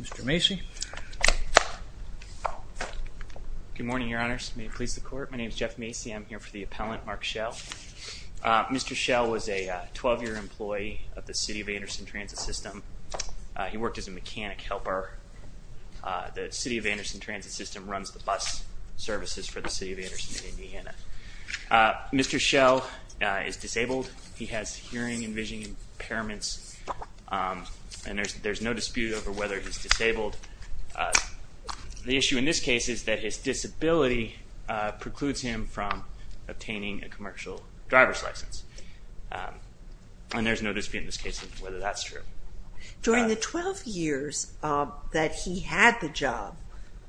Mr. Macy. Good morning, your honors. May it please the court. My name is Jeff Macy. I'm here for the appellant, Mark Shell. Mr. Shell was a 12-year employee of the City of Anderson Transit System. He worked as a mechanic helper. The City of Anderson Transit System runs the bus services for the City of Anderson in Indiana. Mr. Shell is disabled. He has hearing and vision impairments and there's no dispute over whether he's disabled. The issue in this case is that his disability precludes him from obtaining a commercial driver's license and there's no dispute in this case whether that's true. During the 12 years that he had the job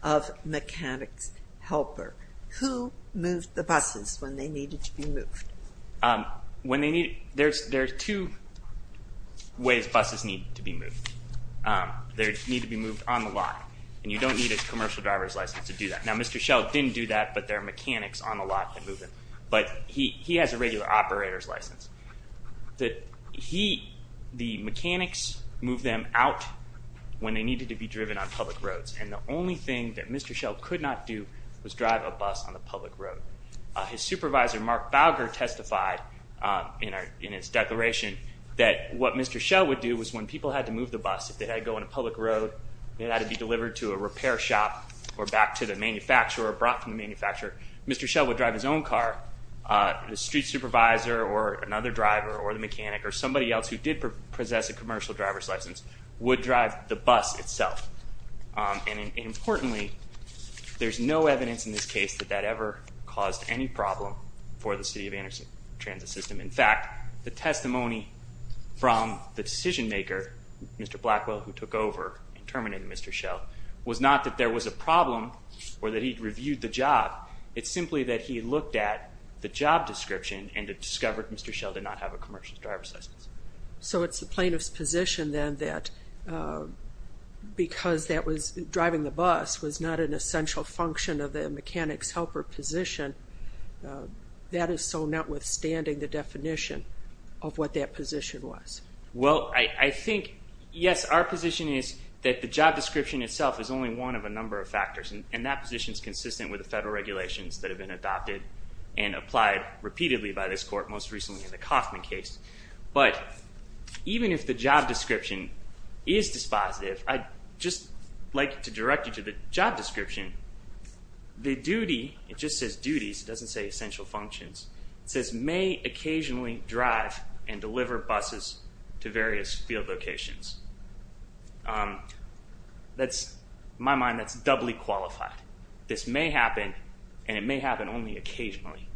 of mechanics helper, who moved the buses when they needed to be moved? When they need, there's two ways buses need to be moved. They need to be moved on the lot and you don't need a commercial driver's license to do that. Now Mr. Shell didn't do that but there are mechanics on the lot that move them, but he has a regular operator's license. The mechanics move them out when they needed to be driven on public roads and the only thing that Mr. Shell could not do was drive a bus on a public road. His supervisor, Mark Bowger, testified in his declaration that what Mr. Shell would do was when people had to move the bus, if they had to go on a public road, it had to be delivered to a repair shop or back to the manufacturer or brought from the manufacturer, Mr. Shell would drive his own car. The street supervisor or another driver or the mechanic or somebody else who did possess a commercial driver's license would drive the bus itself. And importantly, there's no evidence in this case that that ever caused any problem for the City of Anderson Transit System. In fact, the testimony from the decision-maker, Mr. Blackwell, who took over and terminated Mr. Shell, was not that there was a problem or that he'd reviewed the job. It's simply that he looked at the job description and discovered Mr. Shell did not have a commercial driver's license. So it's the plaintiff's position then that because driving the bus was not an essential function of the mechanics helper position, that is so notwithstanding the definition of what that position was. Well, I think, yes, our position is that the job description itself is only one of a number of factors and that position is consistent with the federal regulations that have been adopted and applied repeatedly by this court, most recently in the Kauffman case. But even if the job description is dispositive, I'd just like to direct you to the job description. The duty, it just says duties, it doesn't say essential functions, it says may occasionally drive and deliver buses to various field locations. That's, in my mind, that's doubly qualified. This may happen and it may happen only occasionally.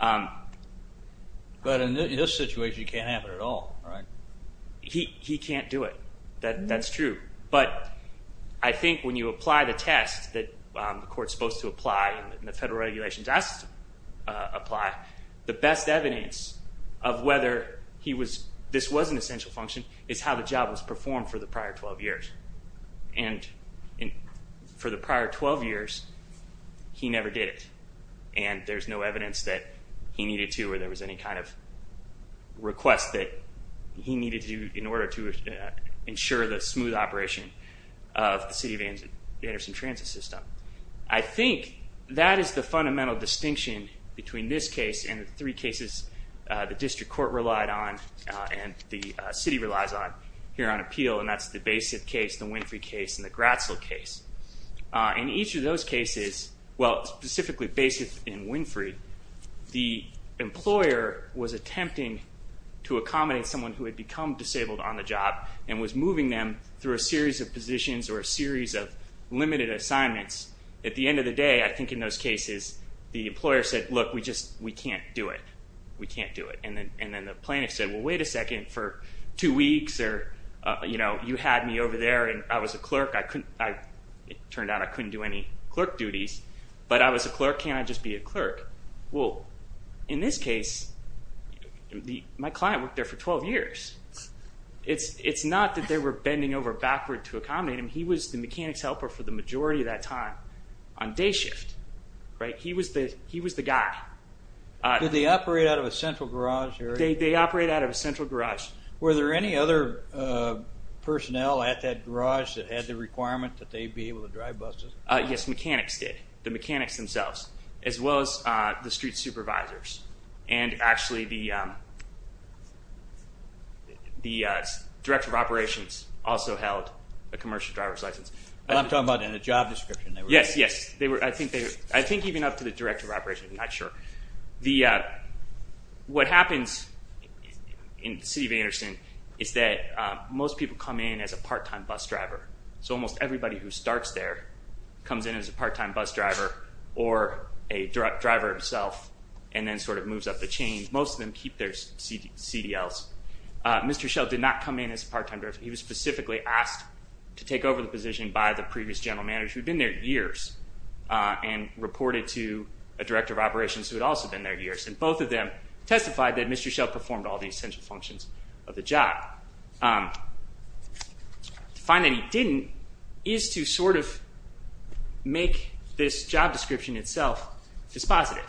But in this situation you can't have it at all, right? He can't do it. That's true. But I think when you apply the test that the court's supposed to apply and the federal regulations asked to apply, the best evidence of whether this was an essential function is how the job was performed for the prior 12 years. And for the prior 12 years, he never did it. And there's no evidence that he needed to or there was any kind of request that he needed to do in order to ensure the smooth operation of the city of Anderson transit system. I think that is the fundamental distinction between this case and the three cases the district court relied on and the city relies on here on appeal, and that's the Basith case, the Winfrey case, and the Gratzel case. In each of those cases, well specifically Basith and Winfrey, the employer was attempting to accommodate someone who had become disabled on the job and was moving them through a series of positions or a series of limited assignments. At the end of the day, I think in those cases, the employer said, look we just we can't do it. We can't do it. And then the plaintiff said, well wait a second for two weeks or you had me over there and I was a clerk. It turned out I couldn't do any clerk duties, but I was a clerk. Can't I just be a clerk? Well, in this case, my client worked there for 12 years. It's not that they were bending over backward to accommodate him. He was the mechanics helper for the majority of that time on day shift, right? He was the guy. Did they operate out of a central garage? They operate out of a central garage. Were there any other personnel at that garage that had the requirement that they be able to drive buses? Yes, mechanics did. The mechanics themselves, as well as the street supervisors. And actually, the Director of Operations also held a commercial driver's license. I'm talking about in a job description. Yes, yes. I think even up to the Director of Operations, I'm not sure. What happens in the city of Anderson is that most people come in as a part time bus driver. So almost everybody who starts there comes in as a part time bus driver or a direct driver himself and then sort of moves up the chain. Most of them keep their CDLs. Mr. Schell did not come in as a part time driver. He was specifically asked to take over the position by the previous general manager who'd been there years and reported to a Director of Operations who had also been there years. And both of them testified that Mr. Schell performed all the essential functions of the job. To find that he didn't is to sort of make this job description itself dispositive.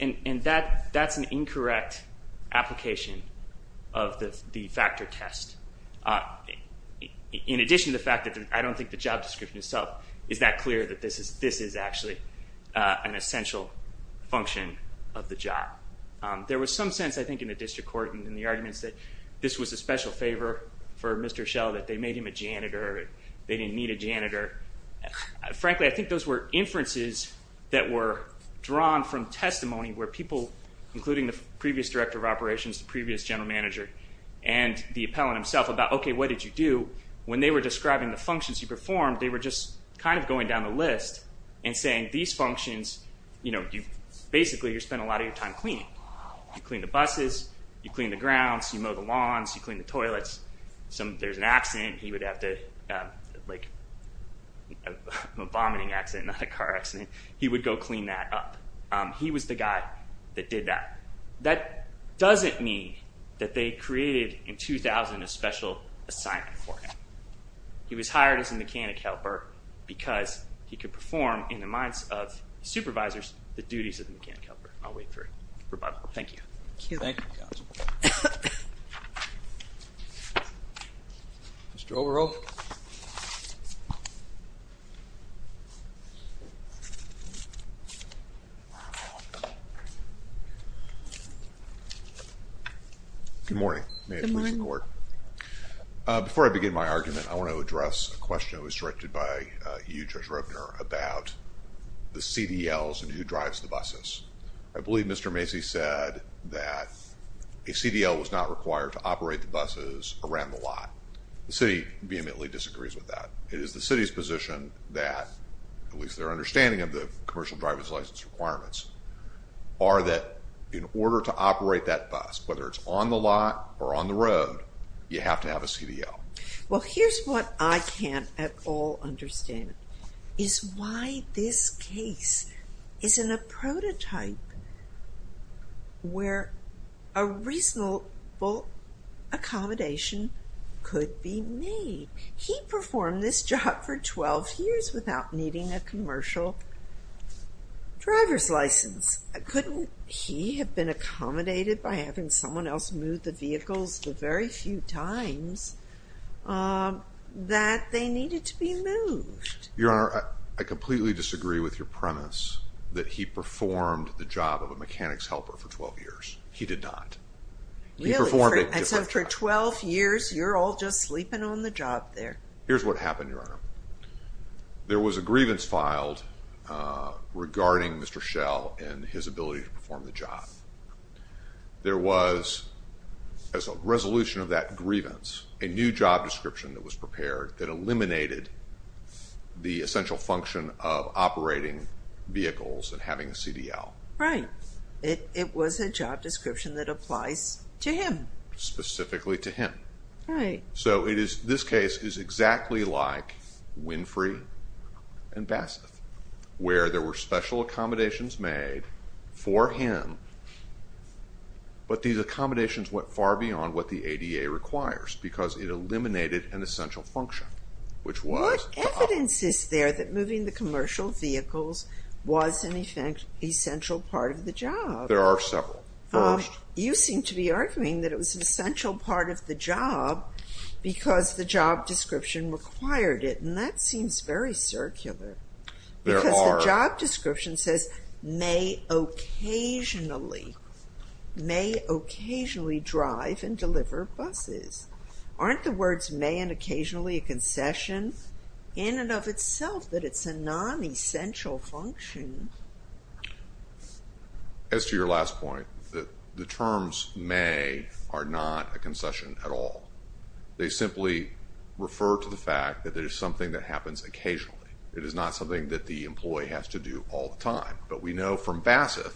And that's an incorrect application of the factor test. In addition to the fact that I don't think the job description itself is that clear that this is actually an essential function of the job. There was some sense, I think, in the district court and in the arguments that this was a special favor for Mr. Schell that they made him a janitor, they didn't need a janitor. Frankly, I think those were inferences that were drawn from testimony where people, including the previous Director of Operations, the previous general manager, and the appellant himself, about okay, what did you do? When they were describing the and saying these functions, you know, basically you're spending a lot of your time cleaning. You clean the buses, you clean the grounds, you mow the lawns, you clean the toilets. If there's an accident, he would have to, like a vomiting accident, not a car accident, he would go clean that up. He was the guy that did that. That doesn't mean that they created in 2000 a special assignment for him. He was hired as a mechanic helper because he could perform, in the minds of supervisors, the duties of the mechanic helper. I'll wait for a rebuttal. Thank you. Thank you. Mr. Overholt. Good morning. Before I begin my argument, I want to address a question that was directed by you, Judge Roepner, about the CDLs and who drives the buses. I believe Mr. Macy said that a CDL was not required to operate the buses around the area. I don't think the city immediately disagrees with that. It is the city's position that, at least their understanding of the commercial driver's license requirements, are that in order to operate that bus, whether it's on the lot or on the road, you have to have a CDL. Well, here's what I can't at all understand, is why this case isn't a He performed this job for 12 years without needing a commercial driver's license. Couldn't he have been accommodated by having someone else move the vehicles the very few times that they needed to be moved? Your Honor, I completely disagree with your premise that he performed the job of a mechanics helper for 12 years. He did not. Really? And so for 12 years, you're all just Here's what happened, Your Honor. There was a grievance filed regarding Mr. Schell and his ability to perform the job. There was, as a resolution of that grievance, a new job description that was prepared that eliminated the essential function of operating vehicles and having a CDL. Right. It was a job description that applies to him. Specifically to him. Right. So it is, this case is exactly like Winfrey and Basseth, where there were special accommodations made for him, but these accommodations went far beyond what the ADA requires, because it eliminated an essential function, which was the job. What evidence is there that moving the commercial vehicles was, in effect, essential part of the job? There are several. First, you seem to be arguing that it was an essential part of the job because the job description required it, and that seems very circular. There are. Because the job description says, may occasionally, may occasionally drive and deliver buses. Aren't the words may and occasionally a concession in and of itself that it's a non-essential function? As to your last point, the terms may are not a concession at all. They simply refer to the fact that there's something that happens occasionally. It is not something that the employee has to do all the time, but we know from Basseth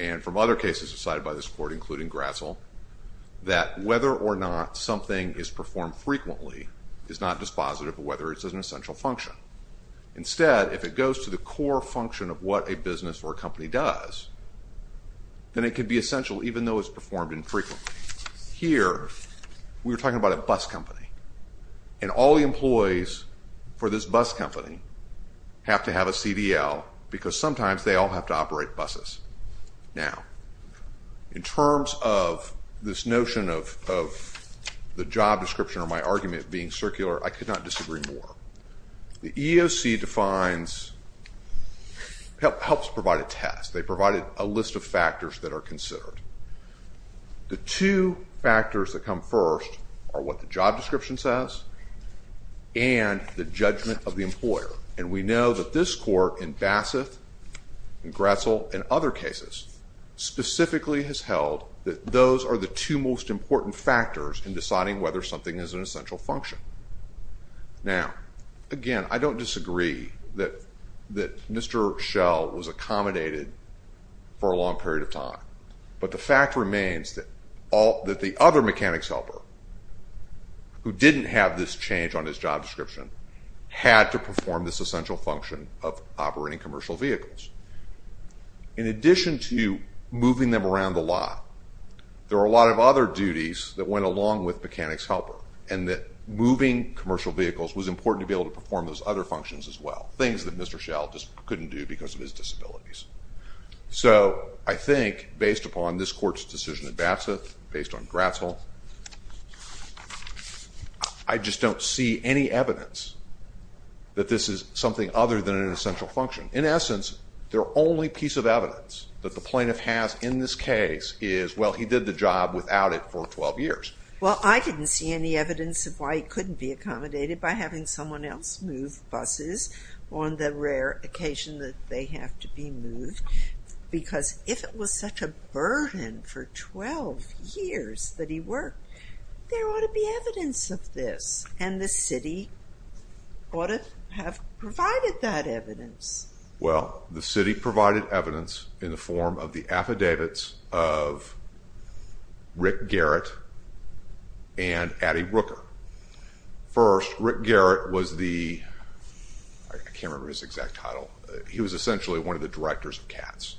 and from other cases decided by this Court, including Gratzel, that whether or not something is performed frequently is not dispositive of whether it's an essential function. Instead, if it goes to the core function of what a business or a company does, then it could be essential, even though it's performed infrequently. Here, we're talking about a bus company, and all the employees for this bus company have to have a CDL because sometimes they all have to operate buses. Now, in terms of this notion of the job description or my argument being circular, I could not EEOC defines, helps provide a test. They provided a list of factors that are considered. The two factors that come first are what the job description says and the judgment of the employer, and we know that this Court in Basseth and Gratzel and other cases specifically has held that those are the two most important factors in deciding whether something is an essential function. Now, again, I don't disagree that Mr. Schell was accommodated for a long period of time, but the fact remains that the other mechanics helper who didn't have this change on his job description had to perform this essential function of operating commercial vehicles. In addition to moving them around a lot, there are a lot of other duties that went along with being able to perform those other functions as well, things that Mr. Schell just couldn't do because of his disabilities. So, I think, based upon this Court's decision in Basseth, based on Gratzel, I just don't see any evidence that this is something other than an essential function. In essence, their only piece of evidence that the plaintiff has in this case is, well, he did the job without it for 12 years. Well, I didn't see any evidence of why he couldn't be someone else move buses on the rare occasion that they have to be moved, because if it was such a burden for 12 years that he worked, there ought to be evidence of this, and the city ought to have provided that evidence. Well, the city provided evidence in the form of the affidavits of Rick Garrett and Addie Rooker. First, Rick Garrett was the, I can't remember his exact title, he was essentially one of the directors of CATS,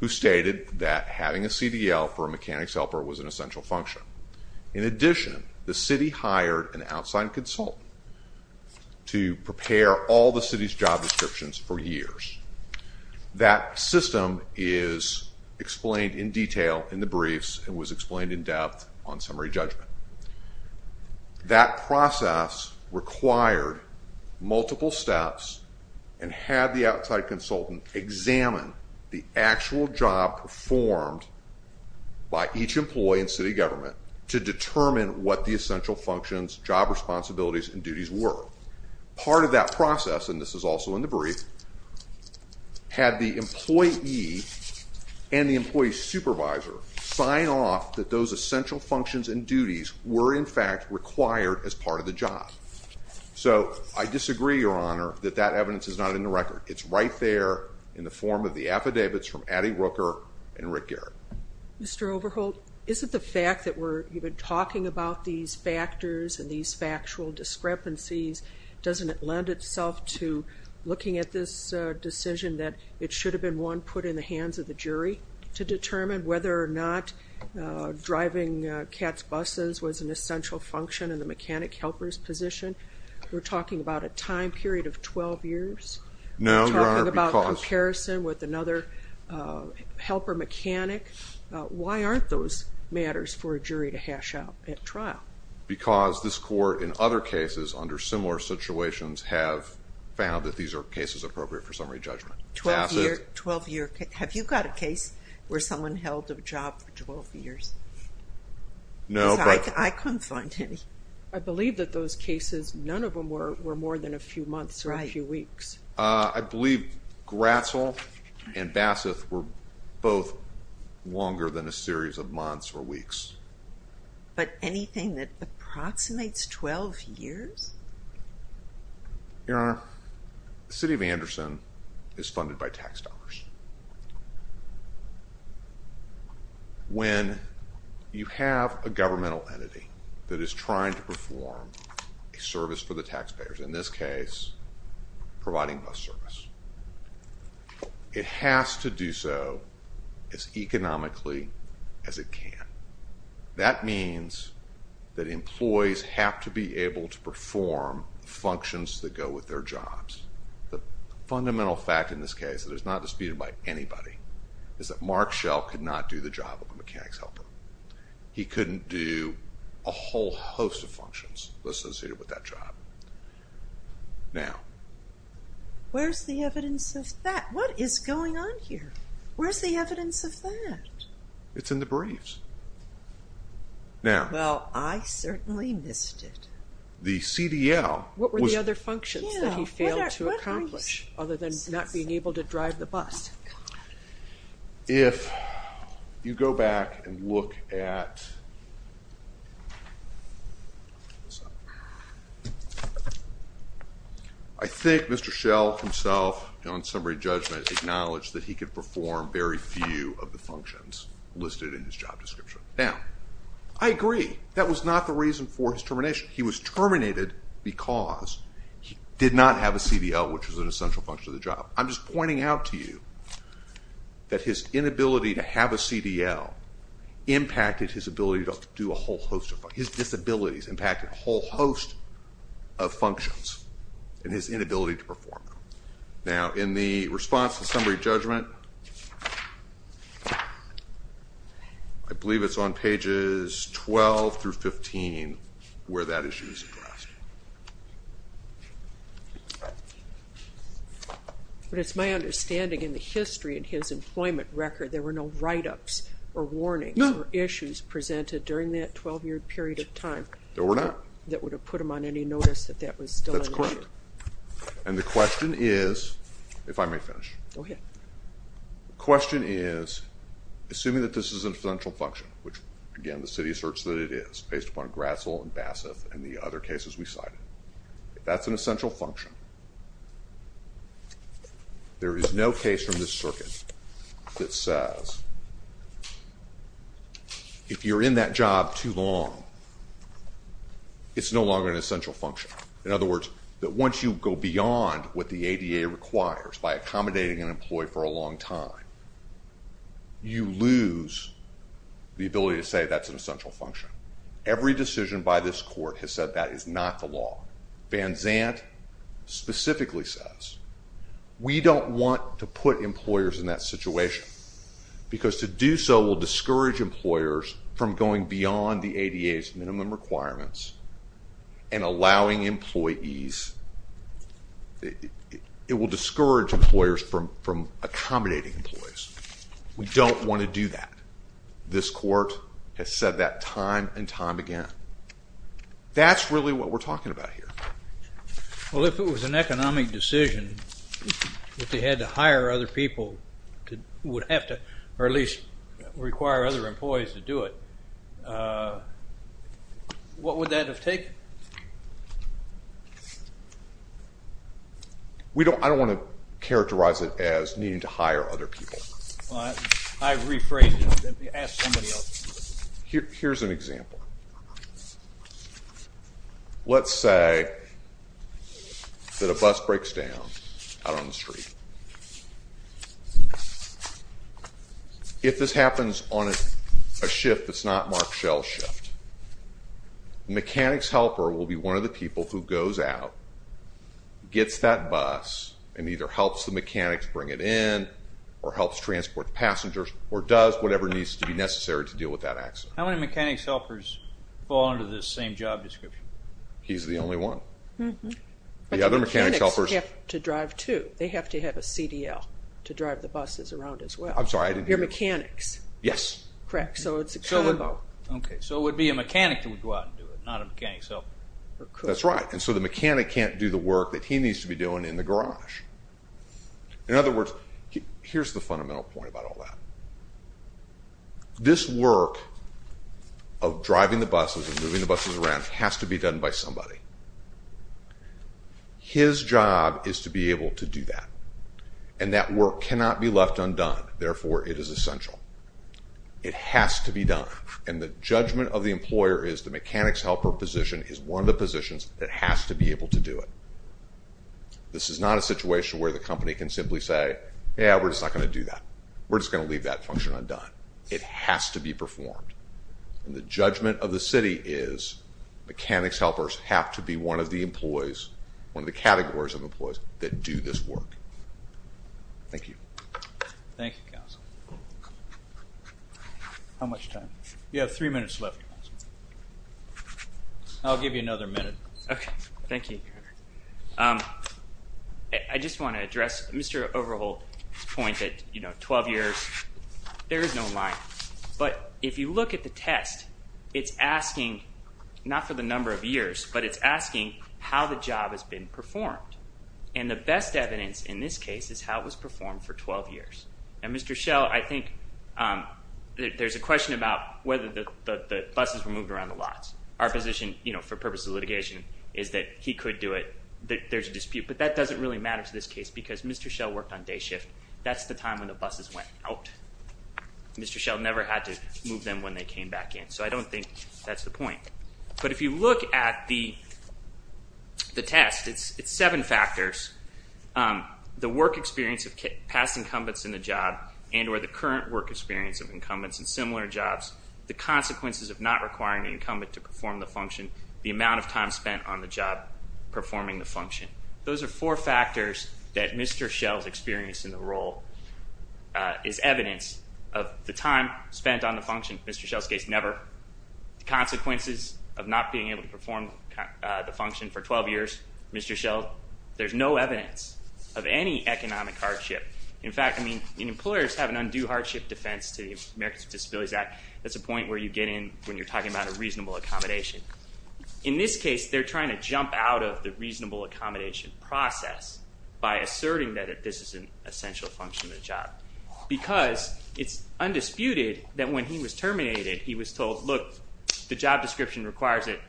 who stated that having a CDL for a mechanics helper was an essential function. In addition, the city hired an outside consult to prepare all the city's job descriptions for years. That system is explained in detail in the briefs and was explained in depth on the brief. That process required multiple steps and had the outside consultant examine the actual job performed by each employee and city government to determine what the essential functions, job responsibilities, and duties were. Part of that process, and this is also in the brief, had the employee and the employee supervisor sign off that those essential functions and duties were in required as part of the job. So, I disagree, Your Honor, that that evidence is not in the record. It's right there in the form of the affidavits from Addie Rooker and Rick Garrett. Mr. Overholt, is it the fact that we're even talking about these factors and these factual discrepancies, doesn't it lend itself to looking at this decision that it should have been one put in the hands of the jury to in the mechanic helper's position? We're talking about a time period of 12 years? No, Your Honor. We're talking about comparison with another helper mechanic? Why aren't those matters for a jury to hash out at trial? Because this court, in other cases under similar situations, have found that these are cases appropriate for summary judgment. Twelve-year, have you got a case where someone held a job for 12 years? No. I couldn't find any. I believe that those cases, none of them were more than a few months or a few weeks. I believe Gratzel and Basseth were both longer than a series of months or weeks. But anything that approximates 12 years? Your Honor, the City of Anderson is funded by tax dollars. When you have a governmental entity that is trying to perform a service for the taxpayers, in this case providing bus service, it has to do so as economically as it can. That means that employees have to be able to perform functions that go with their jobs. The fundamental fact in this case that is not disputed by anybody is that Mark Schell could not do the job of a mechanics helper. He couldn't do a whole host of functions associated with that job. Now, where's the evidence of that? Well, I certainly missed it. The CDL. What were the other functions that he failed to accomplish other than not being able to drive the bus? If you go back and look at I think Mr. Schell himself on summary judgment acknowledged that he could perform very few of the functions listed in his job description. Now, I agree that was not the reason for his termination. He was terminated because he did not have a CDL, which was an essential function of the job. I'm just pointing out to you that his inability to have a CDL impacted his ability to do a whole host of functions. His disabilities impacted a whole host of functions in his inability to perform. Now, in the response to summary judgment, I believe it's on pages 12 through 15 where that issue is addressed. But it's my understanding in the history in his employment record there were no write-ups or warnings or issues presented during that 12-year period of time. There were not. That would have put him on any notice that that was still and the question is, if I may finish, the question is assuming that this is an essential function, which again the city asserts that it is based upon Gratzel and Basseth and the other cases we cited. If that's an essential function, there is no case from this circuit that says if you're in that job too long it's no essential function. In other words, that once you go beyond what the ADA requires by accommodating an employee for a long time, you lose the ability to say that's an essential function. Every decision by this court has said that is not the law. Van Zandt specifically says we don't want to put employers in that situation because to do so will discourage employers from going beyond the ADA's minimum requirements and allowing employees, it will discourage employers from accommodating employees. We don't want to do that. This court has said that time and time again. That's really what we're talking about here. Well if it was an economic decision, if they had to hire other people, would have to or at least require other employees to do it, what would that have taken? We don't, I don't want to characterize it as needing to hire other people. I rephrase it, ask somebody else. Here's an example. Let's say that a bus breaks down out on the street. If this happens on a shift that's not marked shell shift, mechanics helper will be one of the people who goes out, gets that bus, and either helps the mechanics bring it in or helps transport passengers or does whatever needs to be necessary to deal with that accident. How many mechanics helpers fall under this same job description? He's the only one. The other mechanics have to drive too. They have to have a CDL to drive the buses around as well. I'm sorry, I didn't hear you. You're mechanics? Yes. Correct, so it's a combo. Okay, so it would be a mechanic that would go out and do it, not a mechanic's helper. That's right, and so the mechanic can't do the work that he needs to be doing in the garage. In other words, here's the fundamental point about all that. This work of driving the buses and be done by somebody. His job is to be able to do that, and that work cannot be left undone. Therefore, it is essential. It has to be done, and the judgment of the employer is the mechanics helper position is one of the positions that has to be able to do it. This is not a situation where the company can simply say, yeah, we're just not going to do that. We're just going to leave that function undone. It has to be performed, and the judgment of the city is mechanics helpers have to be one of the employees, one of the categories of employees that do this work. Thank you. Thank you, Council. How much time? You have three minutes left. I'll give you another minute. Okay, thank you. I just want to address Mr. Overholt's point that 12 years, there is no line, but if you look at the test, it's asking not for the number of years, but it's asking how the job has been performed, and the best evidence in this case is how it was performed for 12 years. Mr. Schell, I think there's a question about whether the buses were moved around the lots. Our position, for purposes of litigation, is that he could do it. There's a dispute, but that doesn't really matter to this case because Mr. Schell worked on day shift. That's the time when the buses went out. Mr. Schell never had to move them when they came back in, so I don't think that's the point. But if you look at the test, it's seven factors. The work experience of past incumbents in the job and or the current work experience of incumbents in similar jobs, the consequences of not requiring an incumbent to perform the function, the amount of time spent on the job performing the function. Those are four things that Mr. Schell's experience in the role is evidence of. The time spent on the function, Mr. Schell's case, never. The consequences of not being able to perform the function for 12 years, Mr. Schell, there's no evidence of any economic hardship. In fact, I mean, employers have an undue hardship defense to the Americans with Disabilities Act. That's a point where you get in when you're talking about a reasonable accommodation. In this case, they're trying to jump out of the reasonable accommodation process by asserting that this is an essential function of the job. Because it's undisputed that when he was terminated, he was told, look, the job description requires it,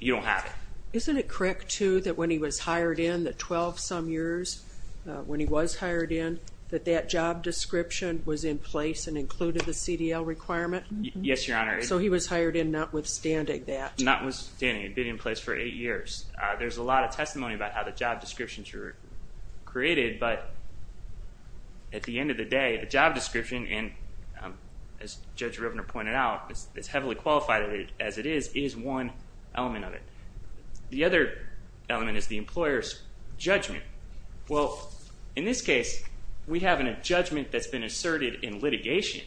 you don't have it. Isn't it correct, too, that when he was hired in, that 12 some years when he was hired in, that that job description was in place and included the CDL requirement? Yes, Your Honor. So he was hired in notwithstanding that? Notwithstanding, it had been in place for eight years. There's a lot of testimony about how the job descriptions were created, but at the end of the day, the job description, and as Judge Rivner pointed out, is heavily qualified as it is, is one element of it. The other element is the employer's judgment. Well, in this case, we have a judgment that's been asserted in litigation,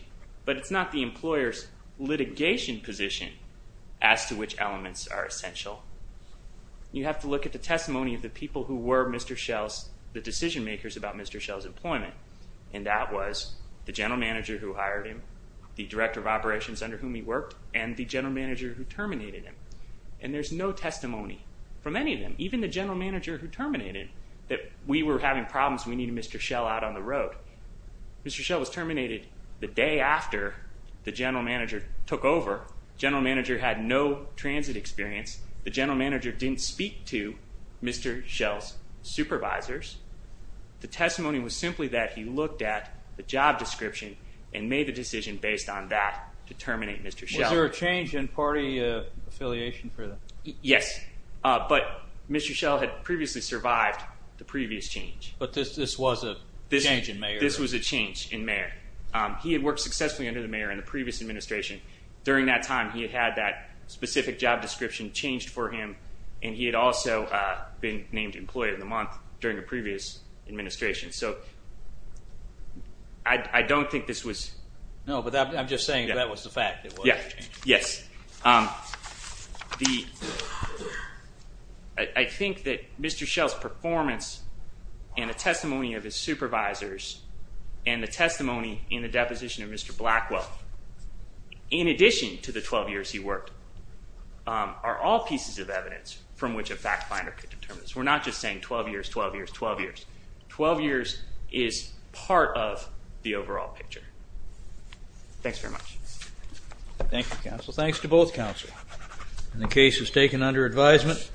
but it's not the employer's litigation position as to which elements are essential. You have to look at the testimony of the people who were Mr. Schell's, the decision makers about Mr. Schell's employment, and that was the general manager who hired him, the director of operations under whom he worked, and the general manager who terminated him. And there's no testimony from any of them, even the general manager who terminated him, that we were having problems, we needed Mr. Schell out on the road. Mr. Schell was terminated the day after the general manager took over. General manager had no transit experience. The general manager didn't speak to Mr. Schell's supervisors. The testimony was simply that he looked at the job description and made the decision based on that to terminate Mr. Schell. Was there a change in party affiliation for them? Yes, but Mr. Schell had previously survived the previous change. But this was a change in mayor? This was a change in mayor. He had worked successfully under the mayor in the previous administration. During that time, he had had that specific job description changed for him, and he had also been named Employee of the Month during a previous administration. So, I don't think this was... No, but I'm just saying that was the fact. Yes, yes, the... I think that Mr. Schell's performance and the testimony of his supervisors, and the 12 years he worked, are all pieces of evidence from which a fact finder could determine this. We're not just saying 12 years, 12 years, 12 years. 12 years is part of the overall picture. Thanks very much. Thank you, counsel. Thanks to both counsel. The case was taken under advisement.